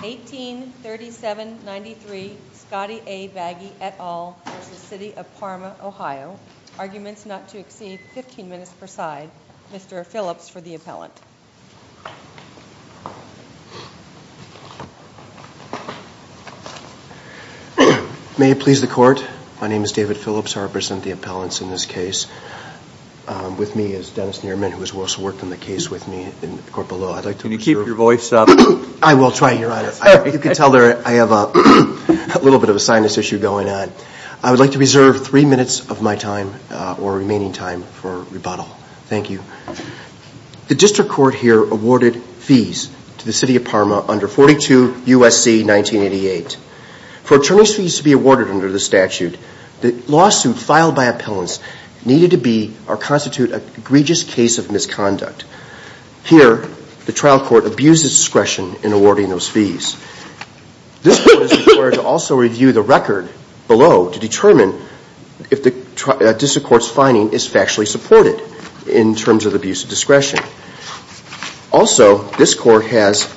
1837-93 Scottie A. Bagi et al. v. City of Parma, Ohio Arguments not to exceed 15 minutes per side Mr. Phillips for the appellant May it please the court, my name is David Phillips, I represent the appellants in this case With me is Dennis Nierman who has also worked on the case with me in the court below Can you keep your voice up? I will try your honor, you can tell I have a little bit of a sinus issue going on I would like to reserve three minutes of my time or remaining time for rebuttal, thank you The district court here awarded fees to the City of Parma under 42 U.S.C. 1988 For attorney's fees to be awarded under the statute, the lawsuit filed by appellants Needed to be or constitute an egregious case of misconduct Here, the trial court abused its discretion in awarding those fees This court is required to also review the record below to determine If the district court's finding is factually supported in terms of abuse of discretion Also, this court has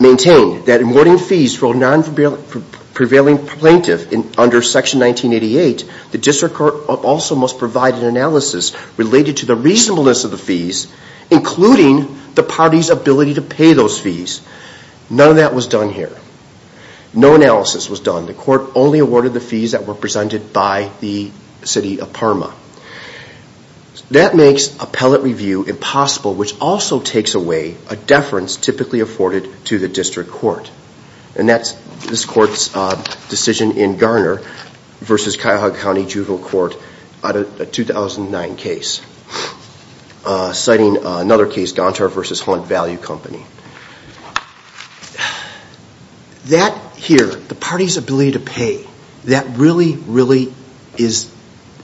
maintained that in awarding fees for a non-prevailing plaintiff Under section 1988, the district court also must provide an analysis related to the reasonableness of the fees Including the party's ability to pay those fees None of that was done here, no analysis was done The court only awarded the fees that were presented by the City of Parma That makes appellate review impossible, which also takes away a deference typically afforded to the district court And that's this court's decision in Garner v. Cuyahoga County Juvenile Court On a 2009 case, citing another case, Gontar v. Hunt Value Company That here, the party's ability to pay, that really, really is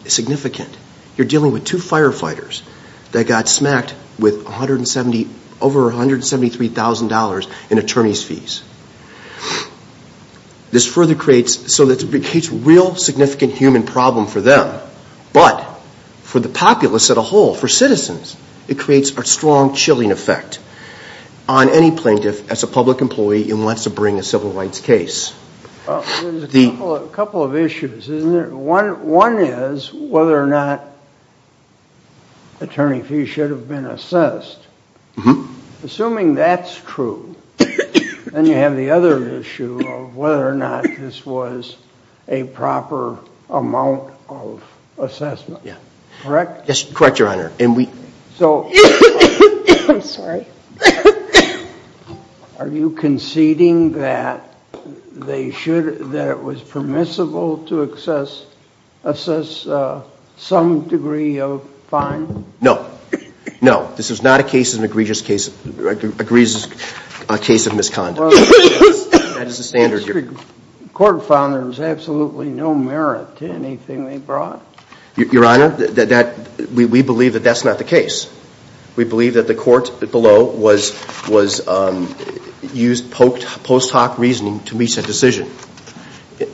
significant You're dealing with two firefighters that got smacked with over $173,000 in attorney's fees This further creates a real significant human problem for them But for the populace as a whole, for citizens, it creates a strong chilling effect On any plaintiff as a public employee who wants to bring a civil rights case There's a couple of issues, isn't there? One is whether or not attorney fees should have been assessed Assuming that's true, then you have the other issue of whether or not this was a proper amount of assessment Correct? Yes, correct, Your Honor I'm sorry Are you conceding that it was permissible to assess some degree of fine? No, no, this is not a case of misconduct The district court found there was absolutely no merit to anything they brought Your Honor, we believe that that's not the case We believe that the court below used post hoc reasoning to reach a decision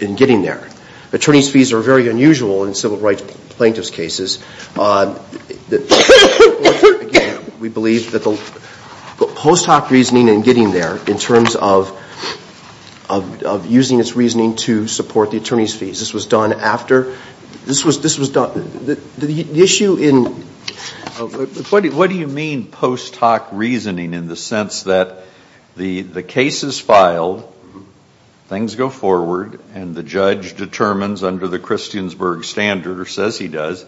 in getting there Attorney's fees are very unusual in civil rights plaintiff's cases We believe that the post hoc reasoning in getting there, in terms of using its reasoning to support the attorney's fees This was done after, this was done, the issue in What do you mean post hoc reasoning in the sense that the case is filed, things go forward And the judge determines under the Christiansburg standard, or says he does,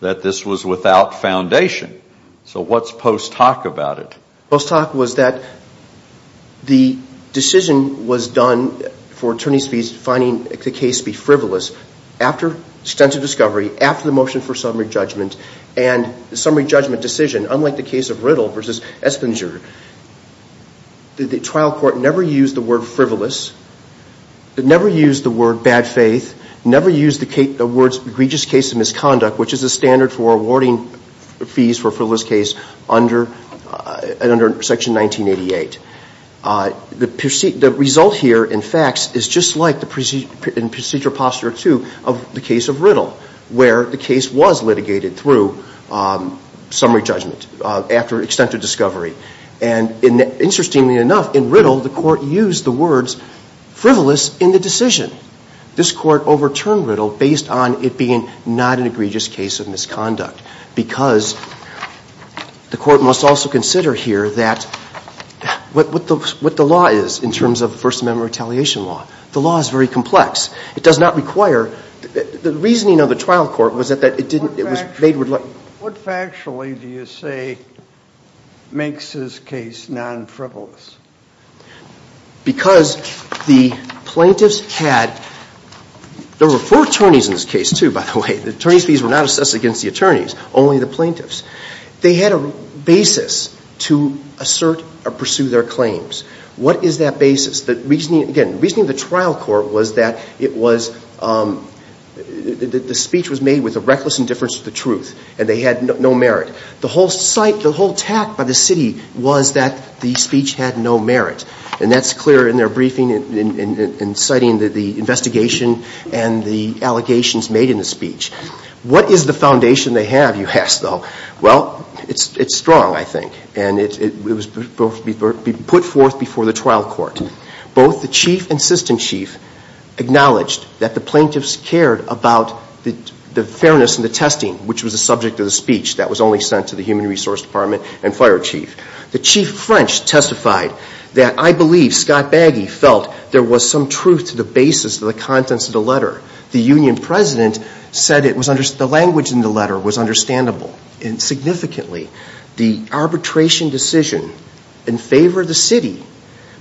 that this was without foundation So what's post hoc about it? Post hoc was that the decision was done for attorney's fees, finding the case to be frivolous After extensive discovery, after the motion for summary judgment And the summary judgment decision, unlike the case of Riddle v. Espinger The trial court never used the word frivolous, never used the word bad faith Never used the words egregious case of misconduct Which is a standard for awarding fees for a frivolous case under section 1988 The result here, in fact, is just like in procedure posture 2 of the case of Riddle Where the case was litigated through summary judgment after extensive discovery And interestingly enough, in Riddle, the court used the words frivolous in the decision This court overturned Riddle based on it being not an egregious case of misconduct Because the court must also consider here what the law is in terms of First Amendment retaliation law The law is very complex, it does not require, the reasoning of the trial court was that it was made with What factually do you say makes this case non-frivolous? Because the plaintiffs had, there were four attorneys in this case too, by the way The attorney's fees were not assessed against the attorneys, only the plaintiffs They had a basis to assert or pursue their claims What is that basis? The reasoning, again, the reasoning of the trial court was that it was The speech was made with a reckless indifference to the truth, and they had no merit The whole site, the whole tact by the city was that the speech had no merit And that's clear in their briefing, in citing the investigation and the allegations made in the speech What is the foundation they have, you ask, though? Well, it's strong, I think, and it was put forth before the trial court Both the chief and assistant chief acknowledged that the plaintiffs cared about the fairness and the testing Which was the subject of the speech that was only sent to the human resource department and fire chief The chief French testified that I believe Scott Baggy felt there was some truth to the basis of the contents of the letter The union president said the language in the letter was understandable And significantly, the arbitration decision in favor of the city,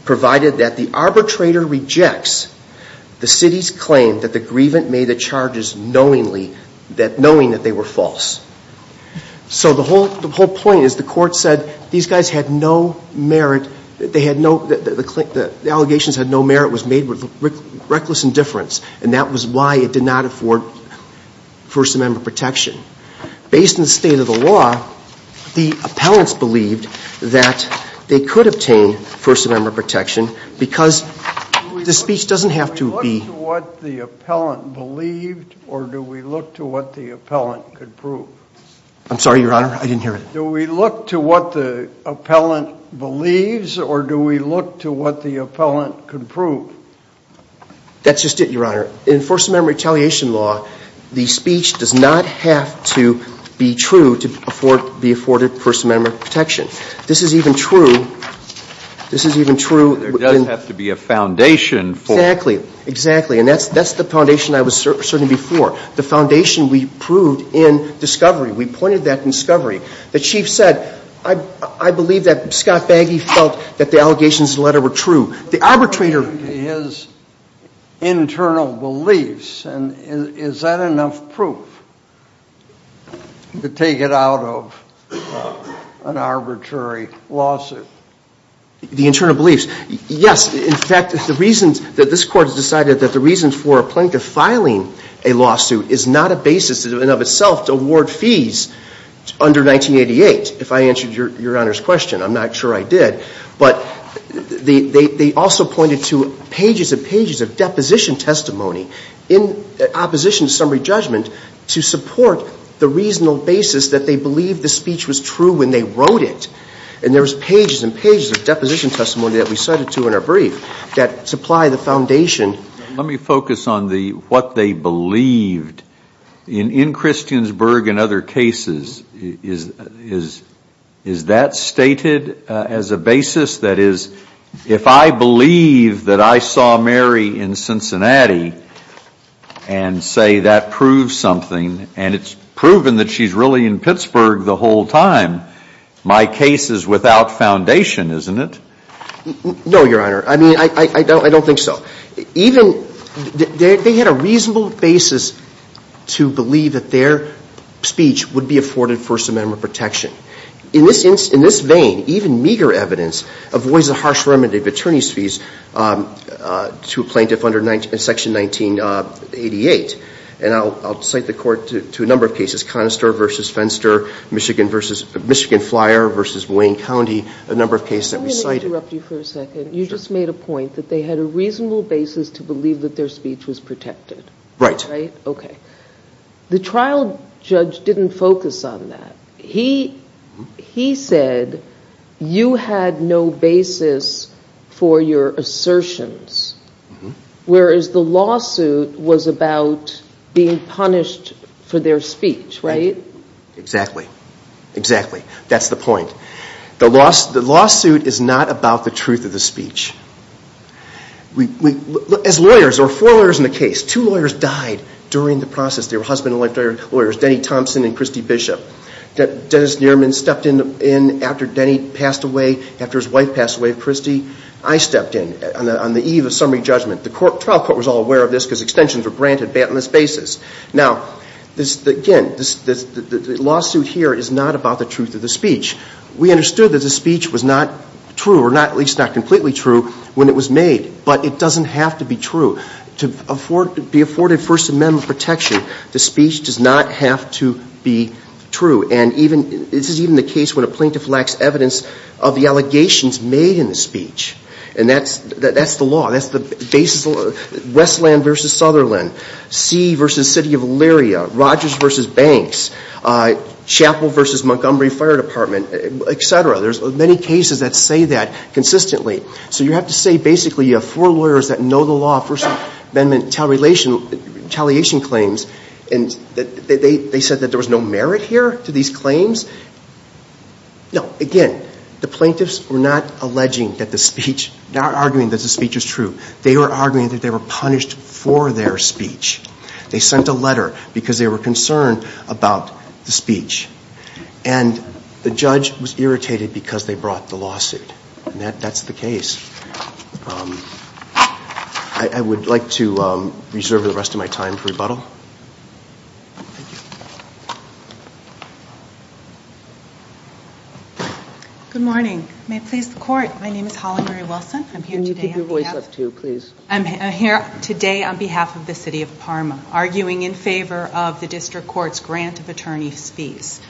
provided that the arbitrator rejects The city's claim that the grievant made the charges knowingly, knowing that they were false So the whole point is the court said these guys had no merit The allegations had no merit, was made with reckless indifference And that was why it did not afford First Amendment protection Based on the state of the law, the appellants believed that they could obtain First Amendment protection Do we look to what the appellant believed, or do we look to what the appellant could prove? I'm sorry, Your Honor, I didn't hear it Do we look to what the appellant believes, or do we look to what the appellant could prove? That's just it, Your Honor. In First Amendment retaliation law, the speech does not have to be true to be afforded First Amendment protection This is even true, this is even true There does have to be a foundation for Exactly, exactly, and that's the foundation I was certain before The foundation we proved in discovery, we pointed that in discovery The chief said, I believe that Scott Baggy felt that the allegations in the letter were true The arbitrator His internal beliefs, and is that enough proof to take it out of an arbitrary lawsuit? The internal beliefs, yes In fact, the reasons that this Court has decided that the reasons for a plaintiff filing a lawsuit is not a basis in and of itself to award fees under 1988 If I answered Your Honor's question, I'm not sure I did But they also pointed to pages and pages of deposition testimony in opposition to summary judgment to support the reasonable basis that they believed the speech was true when they wrote it And there was pages and pages of deposition testimony that we cited to in our brief that supply the foundation Let me focus on what they believed In Christiansburg and other cases, is that stated as a basis? That is, if I believe that I saw Mary in Cincinnati and say that proves something And it's proven that she's really in Pittsburgh the whole time My case is without foundation, isn't it? No, Your Honor, I don't think so They had a reasonable basis to believe that their speech would be afforded First Amendment protection In this vein, even meager evidence avoids a harsh remedy of attorney's fees to a plaintiff under Section 1988 And I'll cite the Court to a number of cases, Conister v. Fenster, Michigan Flyer v. Wayne County, a number of cases that we cited You just made a point that they had a reasonable basis to believe that their speech was protected Right The trial judge didn't focus on that He said you had no basis for your assertions Whereas the lawsuit was about being punished for their speech, right? Exactly That's the point The lawsuit is not about the truth of the speech As lawyers, there were four lawyers in the case Two lawyers died during the process They were husband and wife lawyers, Denny Thompson and Christy Bishop Dennis Nierman stepped in after Denny passed away, after his wife passed away, Christy I stepped in on the eve of summary judgment The trial court was all aware of this because extensions were granted on this basis Now, again, the lawsuit here is not about the truth of the speech We understood that the speech was not true, or at least not completely true, when it was made But it doesn't have to be true To be afforded First Amendment protection, the speech does not have to be true And this is even the case when a plaintiff lacks evidence of the allegations made in the speech And that's the law Westland v. Sutherland Sea v. City of Elyria Rogers v. Banks Chapel v. Montgomery Fire Department, etc. There's many cases that say that consistently So you have to say, basically, you have four lawyers that know the law First Amendment retaliation claims And they said that there was no merit here to these claims? No, again, the plaintiffs were not alleging that the speech Not arguing that the speech was true They were arguing that they were punished for their speech They sent a letter because they were concerned about the speech And the judge was irritated because they brought the lawsuit And that's the case I would like to reserve the rest of my time for rebuttal Good morning, may it please the court My name is Holly Marie Wilson Can you keep your voice up, too, please? I'm here today on behalf of the City of Parma Arguing in favor of the District Court's grant of attorney's fees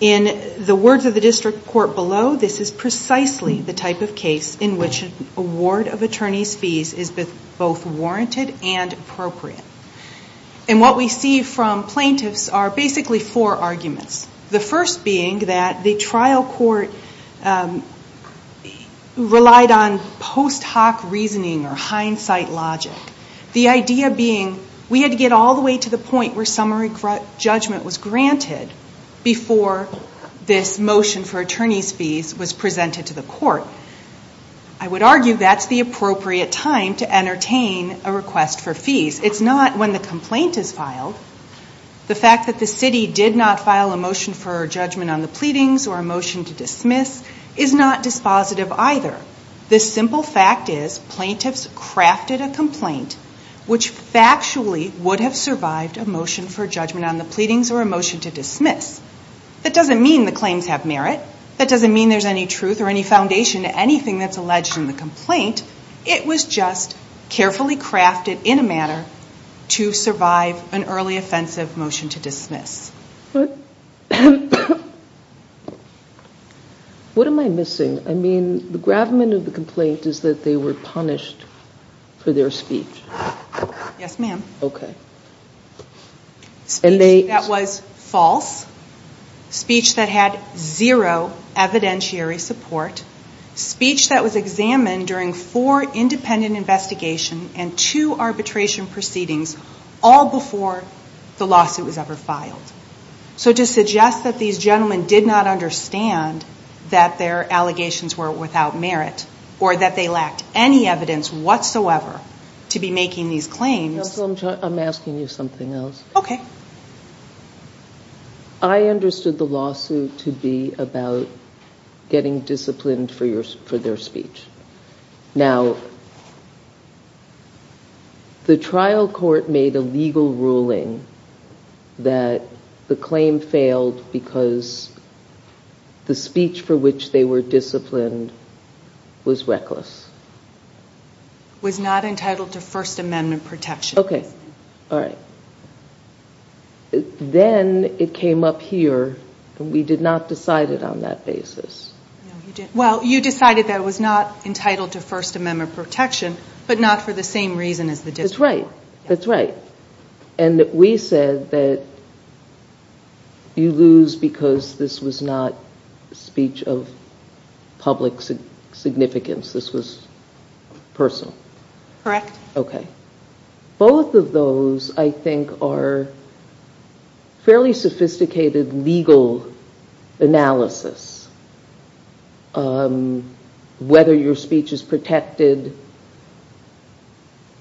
In the words of the District Court below This is precisely the type of case in which an award of attorney's fees is both warranted and appropriate And what we see from plaintiffs are basically four arguments The first being that the trial court relied on post hoc reasoning or hindsight logic The idea being we had to get all the way to the point where summary judgment was granted Before this motion for attorney's fees was presented to the court I would argue that's the appropriate time to entertain a request for fees It's not when the complaint is filed The fact that the city did not file a motion for judgment on the pleadings or a motion to dismiss Is not dispositive either The simple fact is plaintiffs crafted a complaint Which factually would have survived a motion for judgment on the pleadings or a motion to dismiss That doesn't mean the claims have merit That doesn't mean there's any truth or any foundation to anything that's alleged in the complaint It was just carefully crafted in a manner to survive an early offensive motion to dismiss What am I missing? I mean the gravamen of the complaint is that they were punished for their speech Yes ma'am Okay Speech that was false Speech that had zero evidentiary support Speech that was examined during four independent investigations and two arbitration proceedings All before the lawsuit was ever filed So to suggest that these gentlemen did not understand that their allegations were without merit Or that they lacked any evidence whatsoever to be making these claims I'm asking you something else Okay I understood the lawsuit to be about getting disciplined for their speech Now the trial court made a legal ruling that the claim failed because the speech for which they were disciplined was reckless Was not entitled to first amendment protection Okay, alright Then it came up here and we did not decide it on that basis Well you decided that it was not entitled to first amendment protection but not for the same reason as the discipline That's right And we said that you lose because this was not speech of public significance This was personal Correct Okay Both of those I think are fairly sophisticated legal analysis Whether your speech is protected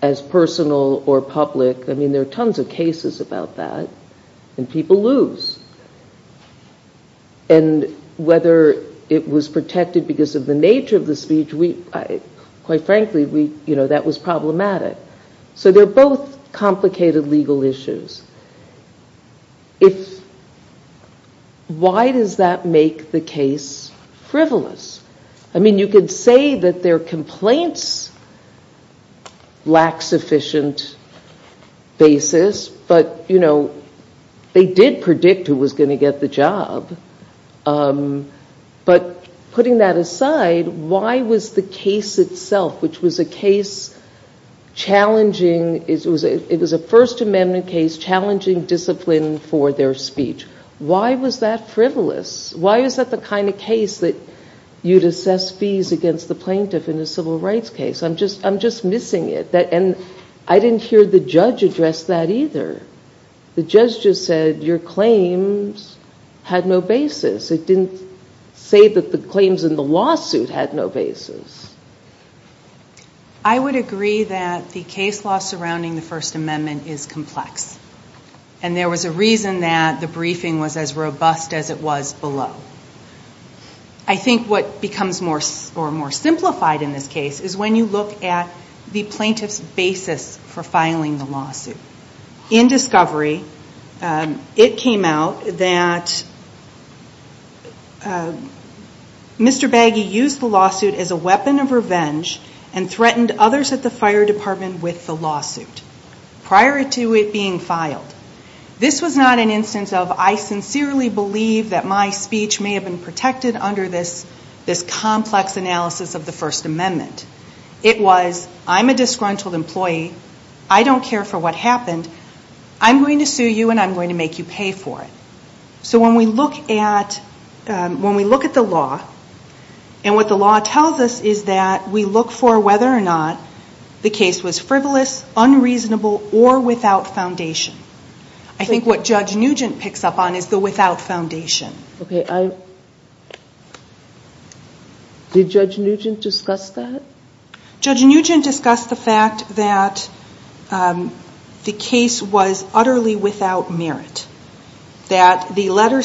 as personal or public I mean there are tons of cases about that And people lose And whether it was protected because of the nature of the speech Quite frankly that was problematic So they're both complicated legal issues Why does that make the case frivolous? I mean you could say that their complaints lack sufficient basis But you know they did predict who was going to get the job But putting that aside, why was the case itself, which was a case challenging It was a first amendment case challenging discipline for their speech Why was that frivolous? Why is that the kind of case that you'd assess fees against the plaintiff in a civil rights case? I'm just missing it I didn't hear the judge address that either The judge just said your claims had no basis It didn't say that the claims in the lawsuit had no basis I would agree that the case law surrounding the first amendment is complex And there was a reason that the briefing was as robust as it was below I think what becomes more simplified in this case Is when you look at the plaintiff's basis for filing the lawsuit In discovery it came out that Mr. Baggy used the lawsuit as a weapon of revenge And threatened others at the fire department with the lawsuit Prior to it being filed This was not an instance of I sincerely believe that my speech may have been protected Under this complex analysis of the first amendment It was I'm a disgruntled employee, I don't care for what happened I'm going to sue you and I'm going to make you pay for it So when we look at the law And what the law tells us is that we look for whether or not The case was frivolous, unreasonable or without foundation I think what Judge Nugent picks up on is the without foundation Did Judge Nugent discuss that? Judge Nugent discussed the fact that the case was utterly without merit That the letter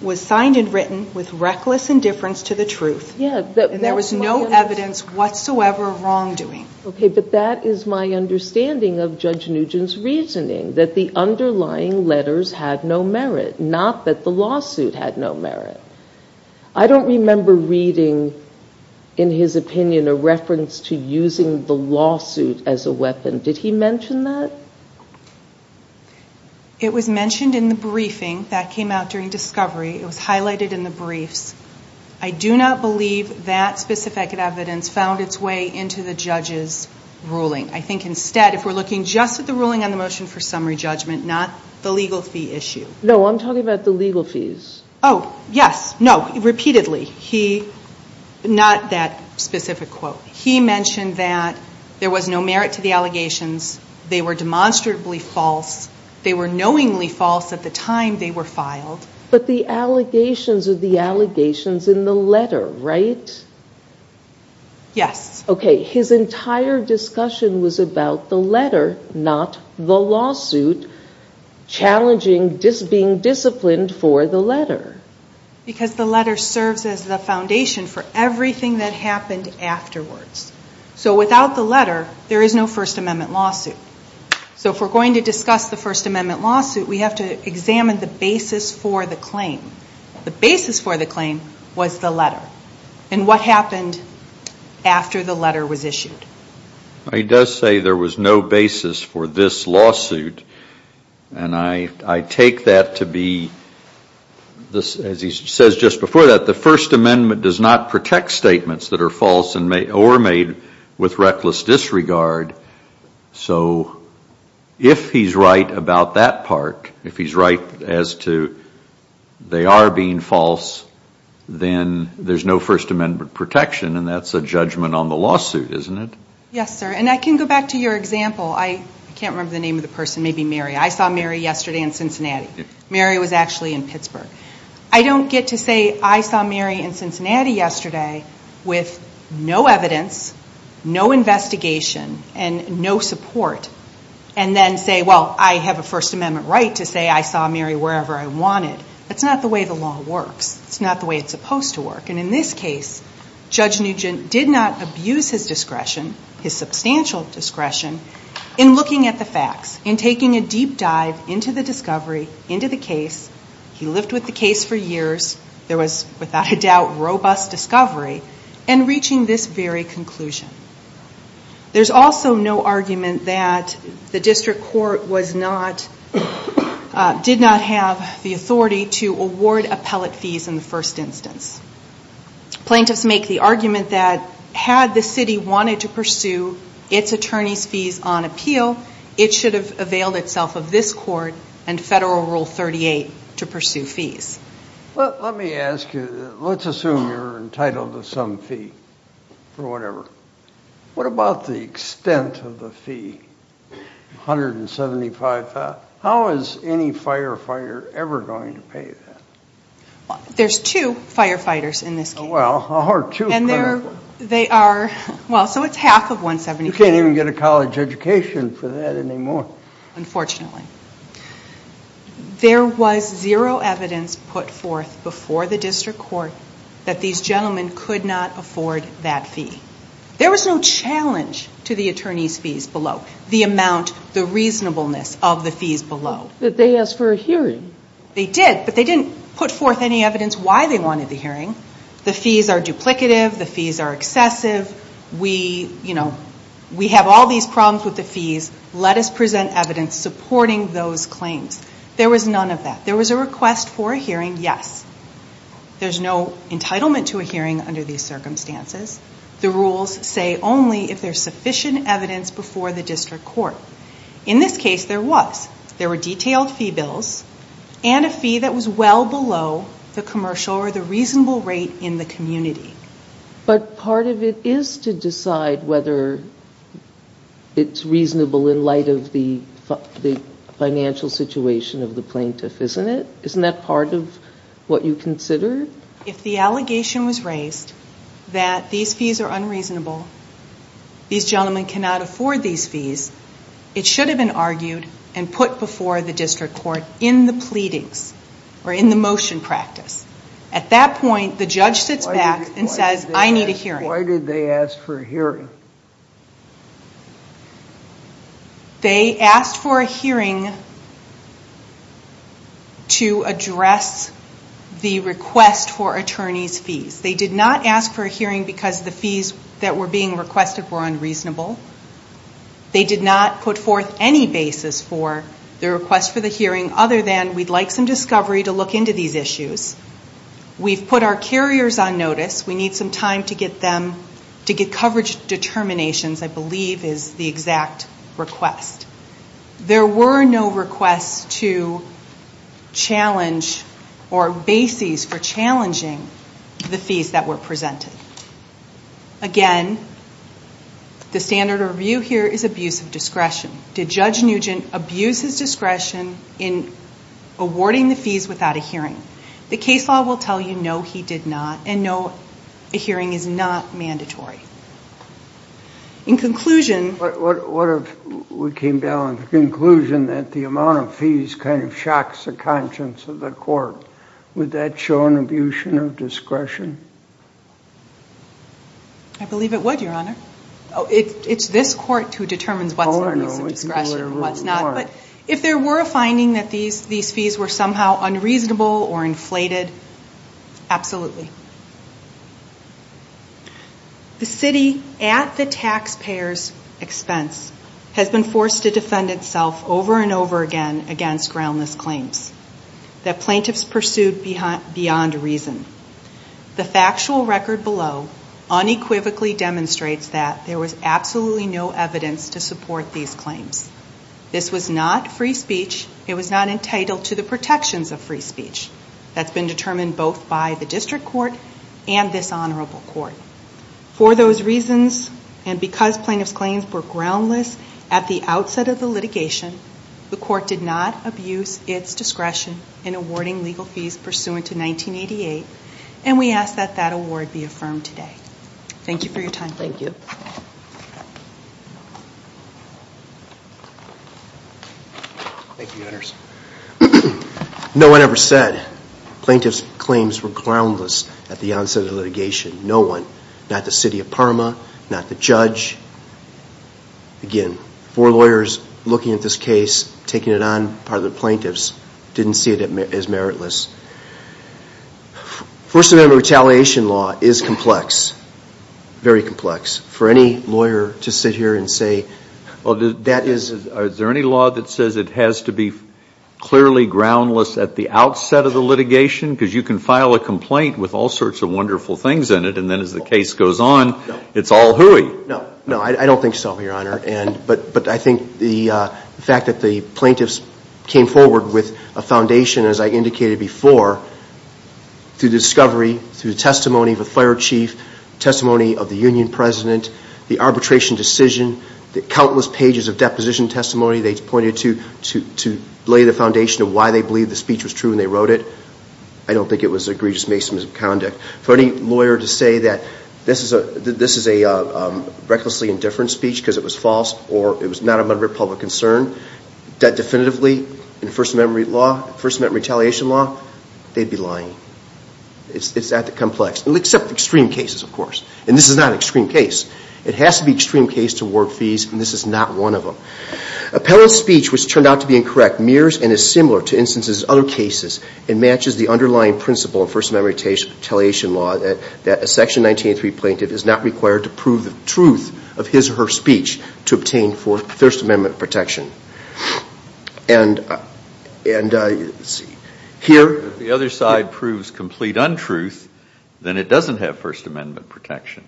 was signed and written with reckless indifference to the truth And there was no evidence whatsoever of wrongdoing But that is my understanding of Judge Nugent's reasoning That the underlying letters had no merit Not that the lawsuit had no merit I don't remember reading in his opinion a reference to using the lawsuit as a weapon Did he mention that? It was mentioned in the briefing that came out during discovery It was highlighted in the briefs I do not believe that specific evidence found its way into the judge's ruling I think instead, if we're looking just at the ruling on the motion for summary judgment Not the legal fee issue No, I'm talking about the legal fees Oh, yes, no, repeatedly He, not that specific quote He mentioned that there was no merit to the allegations They were demonstrably false They were knowingly false at the time they were filed But the allegations are the allegations in the letter, right? Yes Okay, his entire discussion was about the letter, not the lawsuit Challenging being disciplined for the letter Because the letter serves as the foundation for everything that happened afterwards So without the letter, there is no First Amendment lawsuit So if we're going to discuss the First Amendment lawsuit We have to examine the basis for the claim The basis for the claim was the letter And what happened after the letter was issued He does say there was no basis for this lawsuit And I take that to be, as he says just before that The First Amendment does not protect statements that are false or made with reckless disregard So if he's right about that part If he's right as to they are being false Then there's no First Amendment protection And that's a judgment on the lawsuit, isn't it? Yes, sir, and I can go back to your example I can't remember the name of the person, maybe Mary I saw Mary yesterday in Cincinnati Mary was actually in Pittsburgh I don't get to say I saw Mary in Cincinnati yesterday With no evidence, no investigation, and no support And then say, well, I have a First Amendment right to say I saw Mary wherever I wanted That's not the way the law works It's not the way it's supposed to work And in this case, Judge Nugent did not abuse his discretion His substantial discretion in looking at the facts In taking a deep dive into the discovery, into the case He lived with the case for years There was, without a doubt, robust discovery In reaching this very conclusion There's also no argument that the district court was not Did not have the authority to award appellate fees in the first instance Plaintiffs make the argument that Had the city wanted to pursue its attorney's fees on appeal It should have availed itself of this court and Federal Rule 38 to pursue fees Let me ask you, let's assume you're entitled to some fee Or whatever What about the extent of the fee? 175,000 How is any firefighter ever going to pay that? There's two firefighters in this case Well, there are two And they are, well, so it's half of 175 You can't even get a college education for that anymore Unfortunately There was zero evidence put forth before the district court That these gentlemen could not afford that fee There was no challenge to the attorney's fees below The amount, the reasonableness of the fees below But they asked for a hearing They did, but they didn't put forth any evidence why they wanted the hearing The fees are duplicative, the fees are excessive We, you know, we have all these problems with the fees Let us present evidence supporting those claims There was none of that There was a request for a hearing, yes There's no entitlement to a hearing under these circumstances The rules say only if there's sufficient evidence before the district court In this case, there was There were detailed fee bills And a fee that was well below the commercial or the reasonable rate in the community But part of it is to decide whether it's reasonable In light of the financial situation of the plaintiff, isn't it? Isn't that part of what you consider? If the allegation was raised that these fees are unreasonable These gentlemen cannot afford these fees It should have been argued and put before the district court In the pleadings or in the motion practice At that point, the judge sits back and says, I need a hearing Why did they ask for a hearing? They asked for a hearing To address the request for attorney's fees They did not ask for a hearing because the fees that were being requested were unreasonable They did not put forth any basis for the request for the hearing Other than, we'd like some discovery to look into these issues We've put our carriers on notice We need some time to get coverage determinations, I believe is the exact request There were no requests to challenge or basis for challenging the fees that were presented Again, the standard of review here is abuse of discretion Did Judge Nugent abuse his discretion in awarding the fees without a hearing? The case law will tell you, no, he did not And no, a hearing is not mandatory In conclusion What if we came down to the conclusion that the amount of fees kind of shocks the conscience of the court Would that show an abuse of discretion? I believe it would, your honor It's this court who determines what's an abuse of discretion and what's not But if there were a finding that these fees were somehow unreasonable or inflated Absolutely The city, at the taxpayer's expense Has been forced to defend itself over and over again against groundless claims That plaintiffs pursued beyond reason The factual record below unequivocally demonstrates that there was absolutely no evidence to support these claims This was not free speech It was not entitled to the protections of free speech That's been determined both by the district court and this honorable court For those reasons, and because plaintiffs' claims were groundless at the outset of the litigation The court did not abuse its discretion in awarding legal fees pursuant to 1988 And we ask that that award be affirmed today Thank you for your time Thank you No one ever said plaintiffs' claims were groundless at the onset of the litigation No one Not the city of Parma, not the judge Again, four lawyers looking at this case, taking it on part of the plaintiffs Didn't see it as meritless First Amendment retaliation law is complex Very complex For any lawyer to sit here and say Is there any law that says it has to be clearly groundless at the outset of the litigation? Because you can file a complaint with all sorts of wonderful things in it And then as the case goes on, it's all hooey No, I don't think so, Your Honor But I think the fact that the plaintiffs came forward with a foundation, as I indicated before Through discovery, through testimony of a fire chief Testimony of the union president The arbitration decision Countless pages of deposition testimony They pointed to lay the foundation of why they believed the speech was true when they wrote it I don't think it was egregious misconduct For any lawyer to say that this is a recklessly indifferent speech because it was false Or it was not a matter of public concern That definitively, in First Amendment retaliation law They'd be lying It's that complex Except extreme cases, of course And this is not an extreme case It has to be an extreme case to award fees And this is not one of them Appellant's speech which turned out to be incorrect Mirrors and is similar to instances in other cases And matches the underlying principle of First Amendment retaliation law That a Section 1903 plaintiff is not required to prove the truth of his or her speech To obtain First Amendment protection And here If the other side proves complete untruth Then it doesn't have First Amendment protection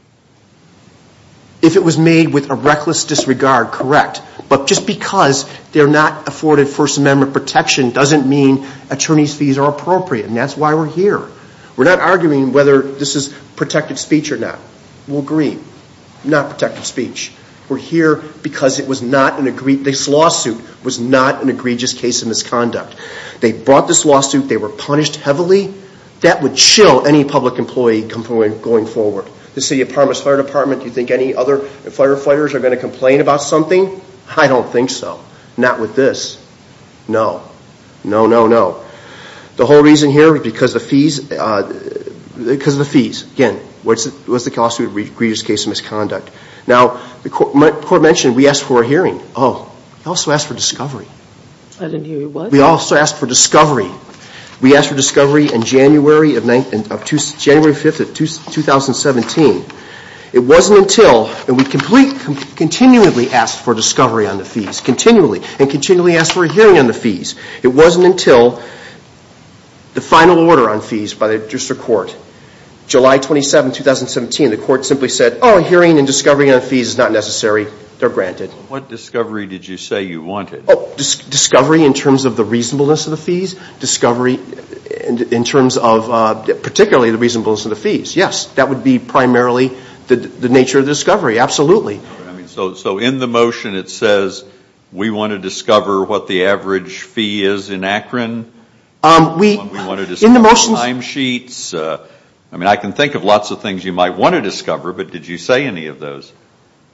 If it was made with a reckless disregard, correct But just because they're not afforded First Amendment protection Doesn't mean attorney's fees are appropriate And that's why we're here We're not arguing whether this is protected speech or not We'll agree Not protected speech We're here because it was not an egregious This lawsuit was not an egregious case of misconduct They brought this lawsuit They were punished heavily That would chill any public employee going forward The City of Parma's Fire Department Do you think any other firefighters are going to complain about something? I don't think so Not with this No No, no, no The whole reason here is because of the fees Because of the fees Again, it was an egregious case of misconduct Now, the Court mentioned we asked for a hearing Oh, we also asked for discovery I didn't hear you, what? We also asked for discovery We asked for discovery in January 5th, 2017 It wasn't until And we continually asked for discovery on the fees Continually And continually asked for a hearing on the fees It wasn't until the final order on fees by the District Court July 27th, 2017 The Court simply said Oh, hearing and discovery on fees is not necessary They're granted What discovery did you say you wanted? Oh, discovery in terms of the reasonableness of the fees Discovery in terms of Particularly the reasonableness of the fees Yes, that would be primarily the nature of the discovery Absolutely So in the motion it says We want to discover what the average fee is in Akron We want to discover timesheets I mean, I can think of lots of things you might want to discover But did you say any of those?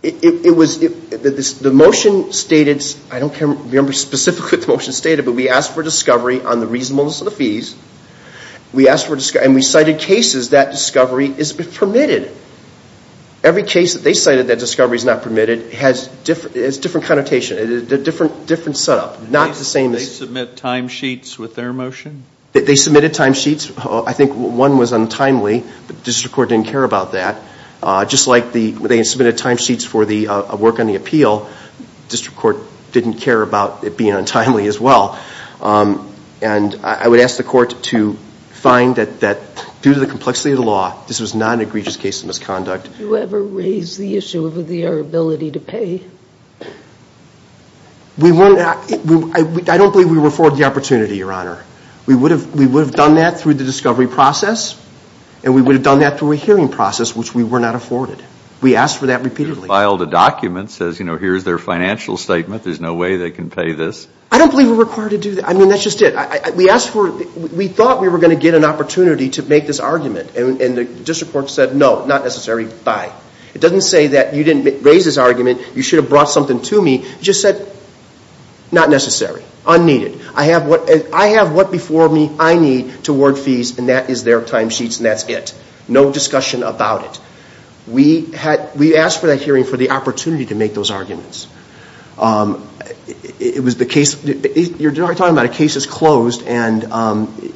It was The motion stated I don't remember specifically what the motion stated But we asked for discovery on the reasonableness of the fees We asked for discovery And we cited cases that discovery is permitted Every case that they cited that discovery is not permitted It has a different connotation It's a different setup They submit timesheets with their motion? They submitted timesheets I think one was untimely The District Court didn't care about that Just like they submitted timesheets for the work on the appeal The District Court didn't care about it being untimely as well And I would ask the Court to find that Due to the complexity of the law This was not an egregious case of misconduct Did you ever raise the issue of their ability to pay? We weren't I don't believe we were afforded the opportunity, Your Honor We would have done that through the discovery process And we would have done that through a hearing process Which we were not afforded We asked for that repeatedly You filed a document that says Here's their financial statement There's no way they can pay this I don't believe we're required to do that I mean, that's just it We thought we were going to get an opportunity to make this argument And the District Court said No, not necessary Bye It doesn't say that you didn't raise this argument You should have brought something to me It just said Not necessary Unneeded I have what before me I need to award fees And that is their timesheets And that's it No discussion about it We asked for that hearing For the opportunity to make those arguments It was the case You're talking about a case that's closed And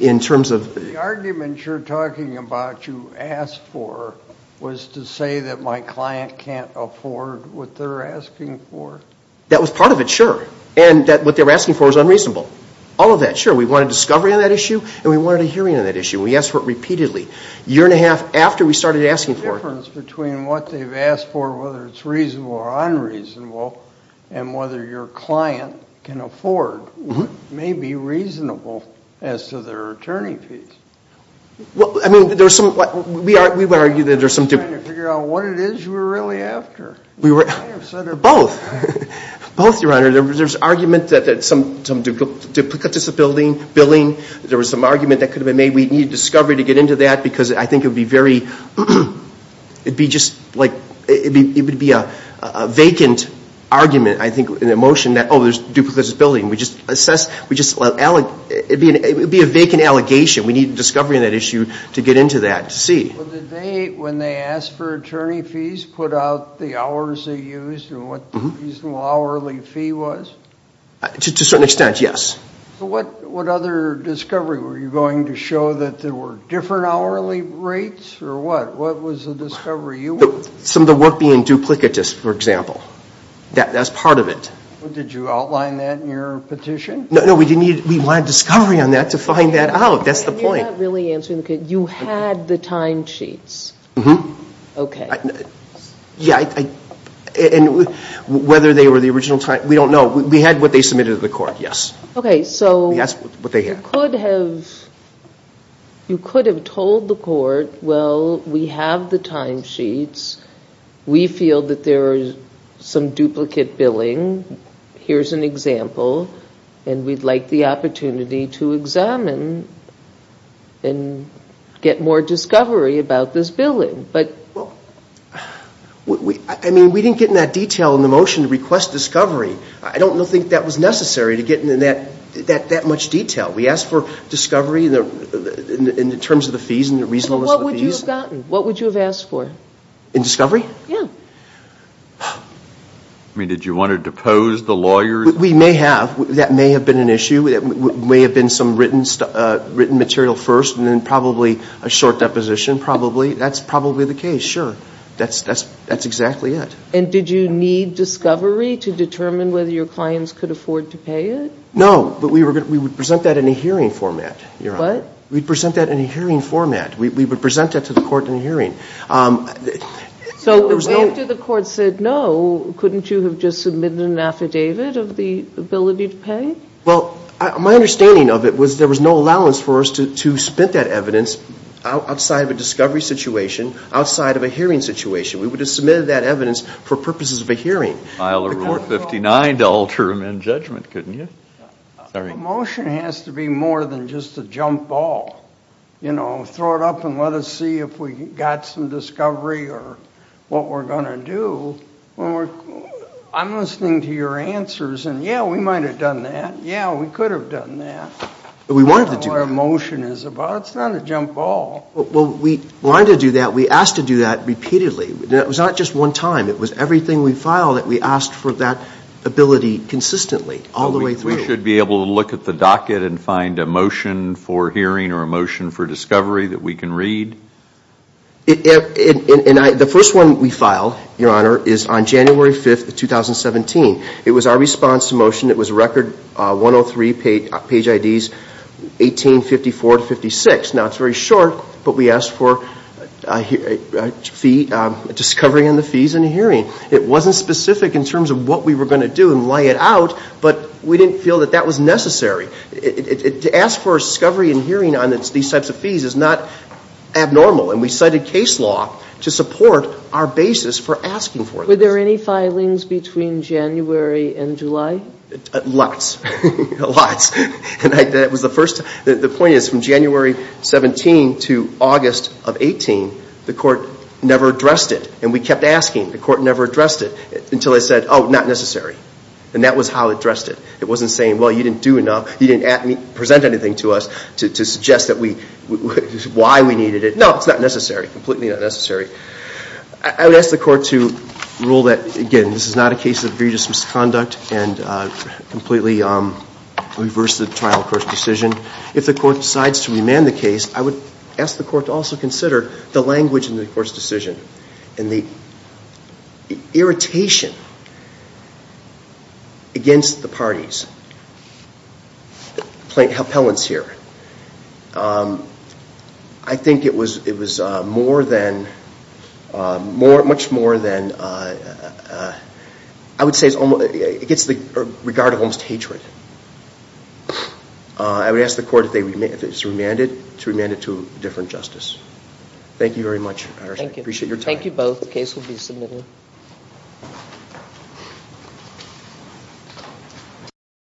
in terms of The argument you're talking about You asked for Was to say that my client can't afford What they're asking for That was part of it, sure And that what they're asking for is unreasonable All of that, sure We wanted discovery on that issue And we wanted a hearing on that issue We asked for it repeatedly A year and a half after we started asking for it The difference between what they've asked for Whether it's reasonable or unreasonable And whether your client can afford May be reasonable As to their attorney fees I mean, there's some We would argue that there's some Trying to figure out what it is you were really after We were Both Both, your honor There's argument that some Duplicate disability billing There was some argument that could have been made We need discovery to get into that Because I think it would be very It'd be just like It would be a vacant argument I think, an emotion that Oh, there's duplicate disability We just assess We just It would be a vacant allegation We need discovery on that issue To get into that To see Well, did they When they asked for attorney fees Put out the hours they used And what the reasonable hourly fee was? To a certain extent, yes What other discovery Were you going to show that There were different hourly rates Or what? What was the discovery you wanted? Some of the work being duplicitous, for example That's part of it Did you outline that in your petition? No, no, we didn't need We wanted discovery on that To find that out That's the point And you're not really answering the question You had the time sheets Mm-hmm Okay Yeah, I And Whether they were the original time We don't know We had what they submitted to the court, yes Okay, so That's what they had You could have You could have told the court Well, we have the time sheets We feel that there are Some duplicate billing Here's an example And we'd like the opportunity to examine And get more discovery about this billing But Well We I mean, we didn't get in that detail In the motion to request discovery I don't think that was necessary To get in that That much detail We asked for discovery In terms of the fees And the reasonableness of the fees What would you have gotten? What would you have asked for? In discovery? Yeah I mean, did you want to depose the lawyers? We may have That may have been an issue It may have been some written material first And then probably a short deposition Probably That's probably the case, sure That's exactly it And did you need discovery To determine whether your clients could afford to pay it? No But we would present that in a hearing format What? We'd present that in a hearing format We would present that to the court in a hearing So There was no After the court said no Couldn't you have just submitted an affidavit Of the ability to pay? Well My understanding of it was There was no allowance for us to To spit that evidence Outside of a discovery situation Outside of a hearing situation We would have submitted that evidence For purposes of a hearing File a rule of 59 to alter him in judgment Couldn't you? Sorry A motion has to be more than just a jump ball You know Throw it up and let us see If we got some discovery Or what we're going to do I'm listening to your answers And yeah, we might have done that Yeah, we could have done that We wanted to do that I don't know what a motion is about It's not a jump ball Well, we wanted to do that We asked to do that repeatedly It was not just one time It was everything we filed That we asked for that ability consistently All the way through We should be able to look at the docket And find a motion for hearing Or a motion for discovery That we can read The first one we filed Your honor Is on January 5th, 2017 It was our response to motion It was Record 103 Page IDs 1854 to 56 Now, it's very short But we asked for A fee A discovery on the fees and a hearing It wasn't specific in terms of What we were going to do And lay it out But we didn't feel that that was necessary To ask for a discovery and hearing On these types of fees Fees is not abnormal And we cited case law To support our basis for asking for this Were there any filings between January and July? Lots Lots And that was the first The point is From January 17th to August of 18th The court never addressed it And we kept asking The court never addressed it Until they said Oh, not necessary And that was how it addressed it It wasn't saying Well, you didn't do enough You didn't present anything to us To suggest that we Why we needed it No, it's not necessary Completely not necessary I would ask the court to Rule that Again, this is not a case of egregious misconduct And completely Reverse the trial court's decision If the court decides to remand the case I would ask the court to also consider The language in the court's decision And the Irritation Against the parties Plaintiff appellants here I think it was More than Much more than I would say It gets the Regard of almost hatred I would ask the court If it's remanded To remand it to a different justice Thank you very much Appreciate your time Thank you both The case will be submitted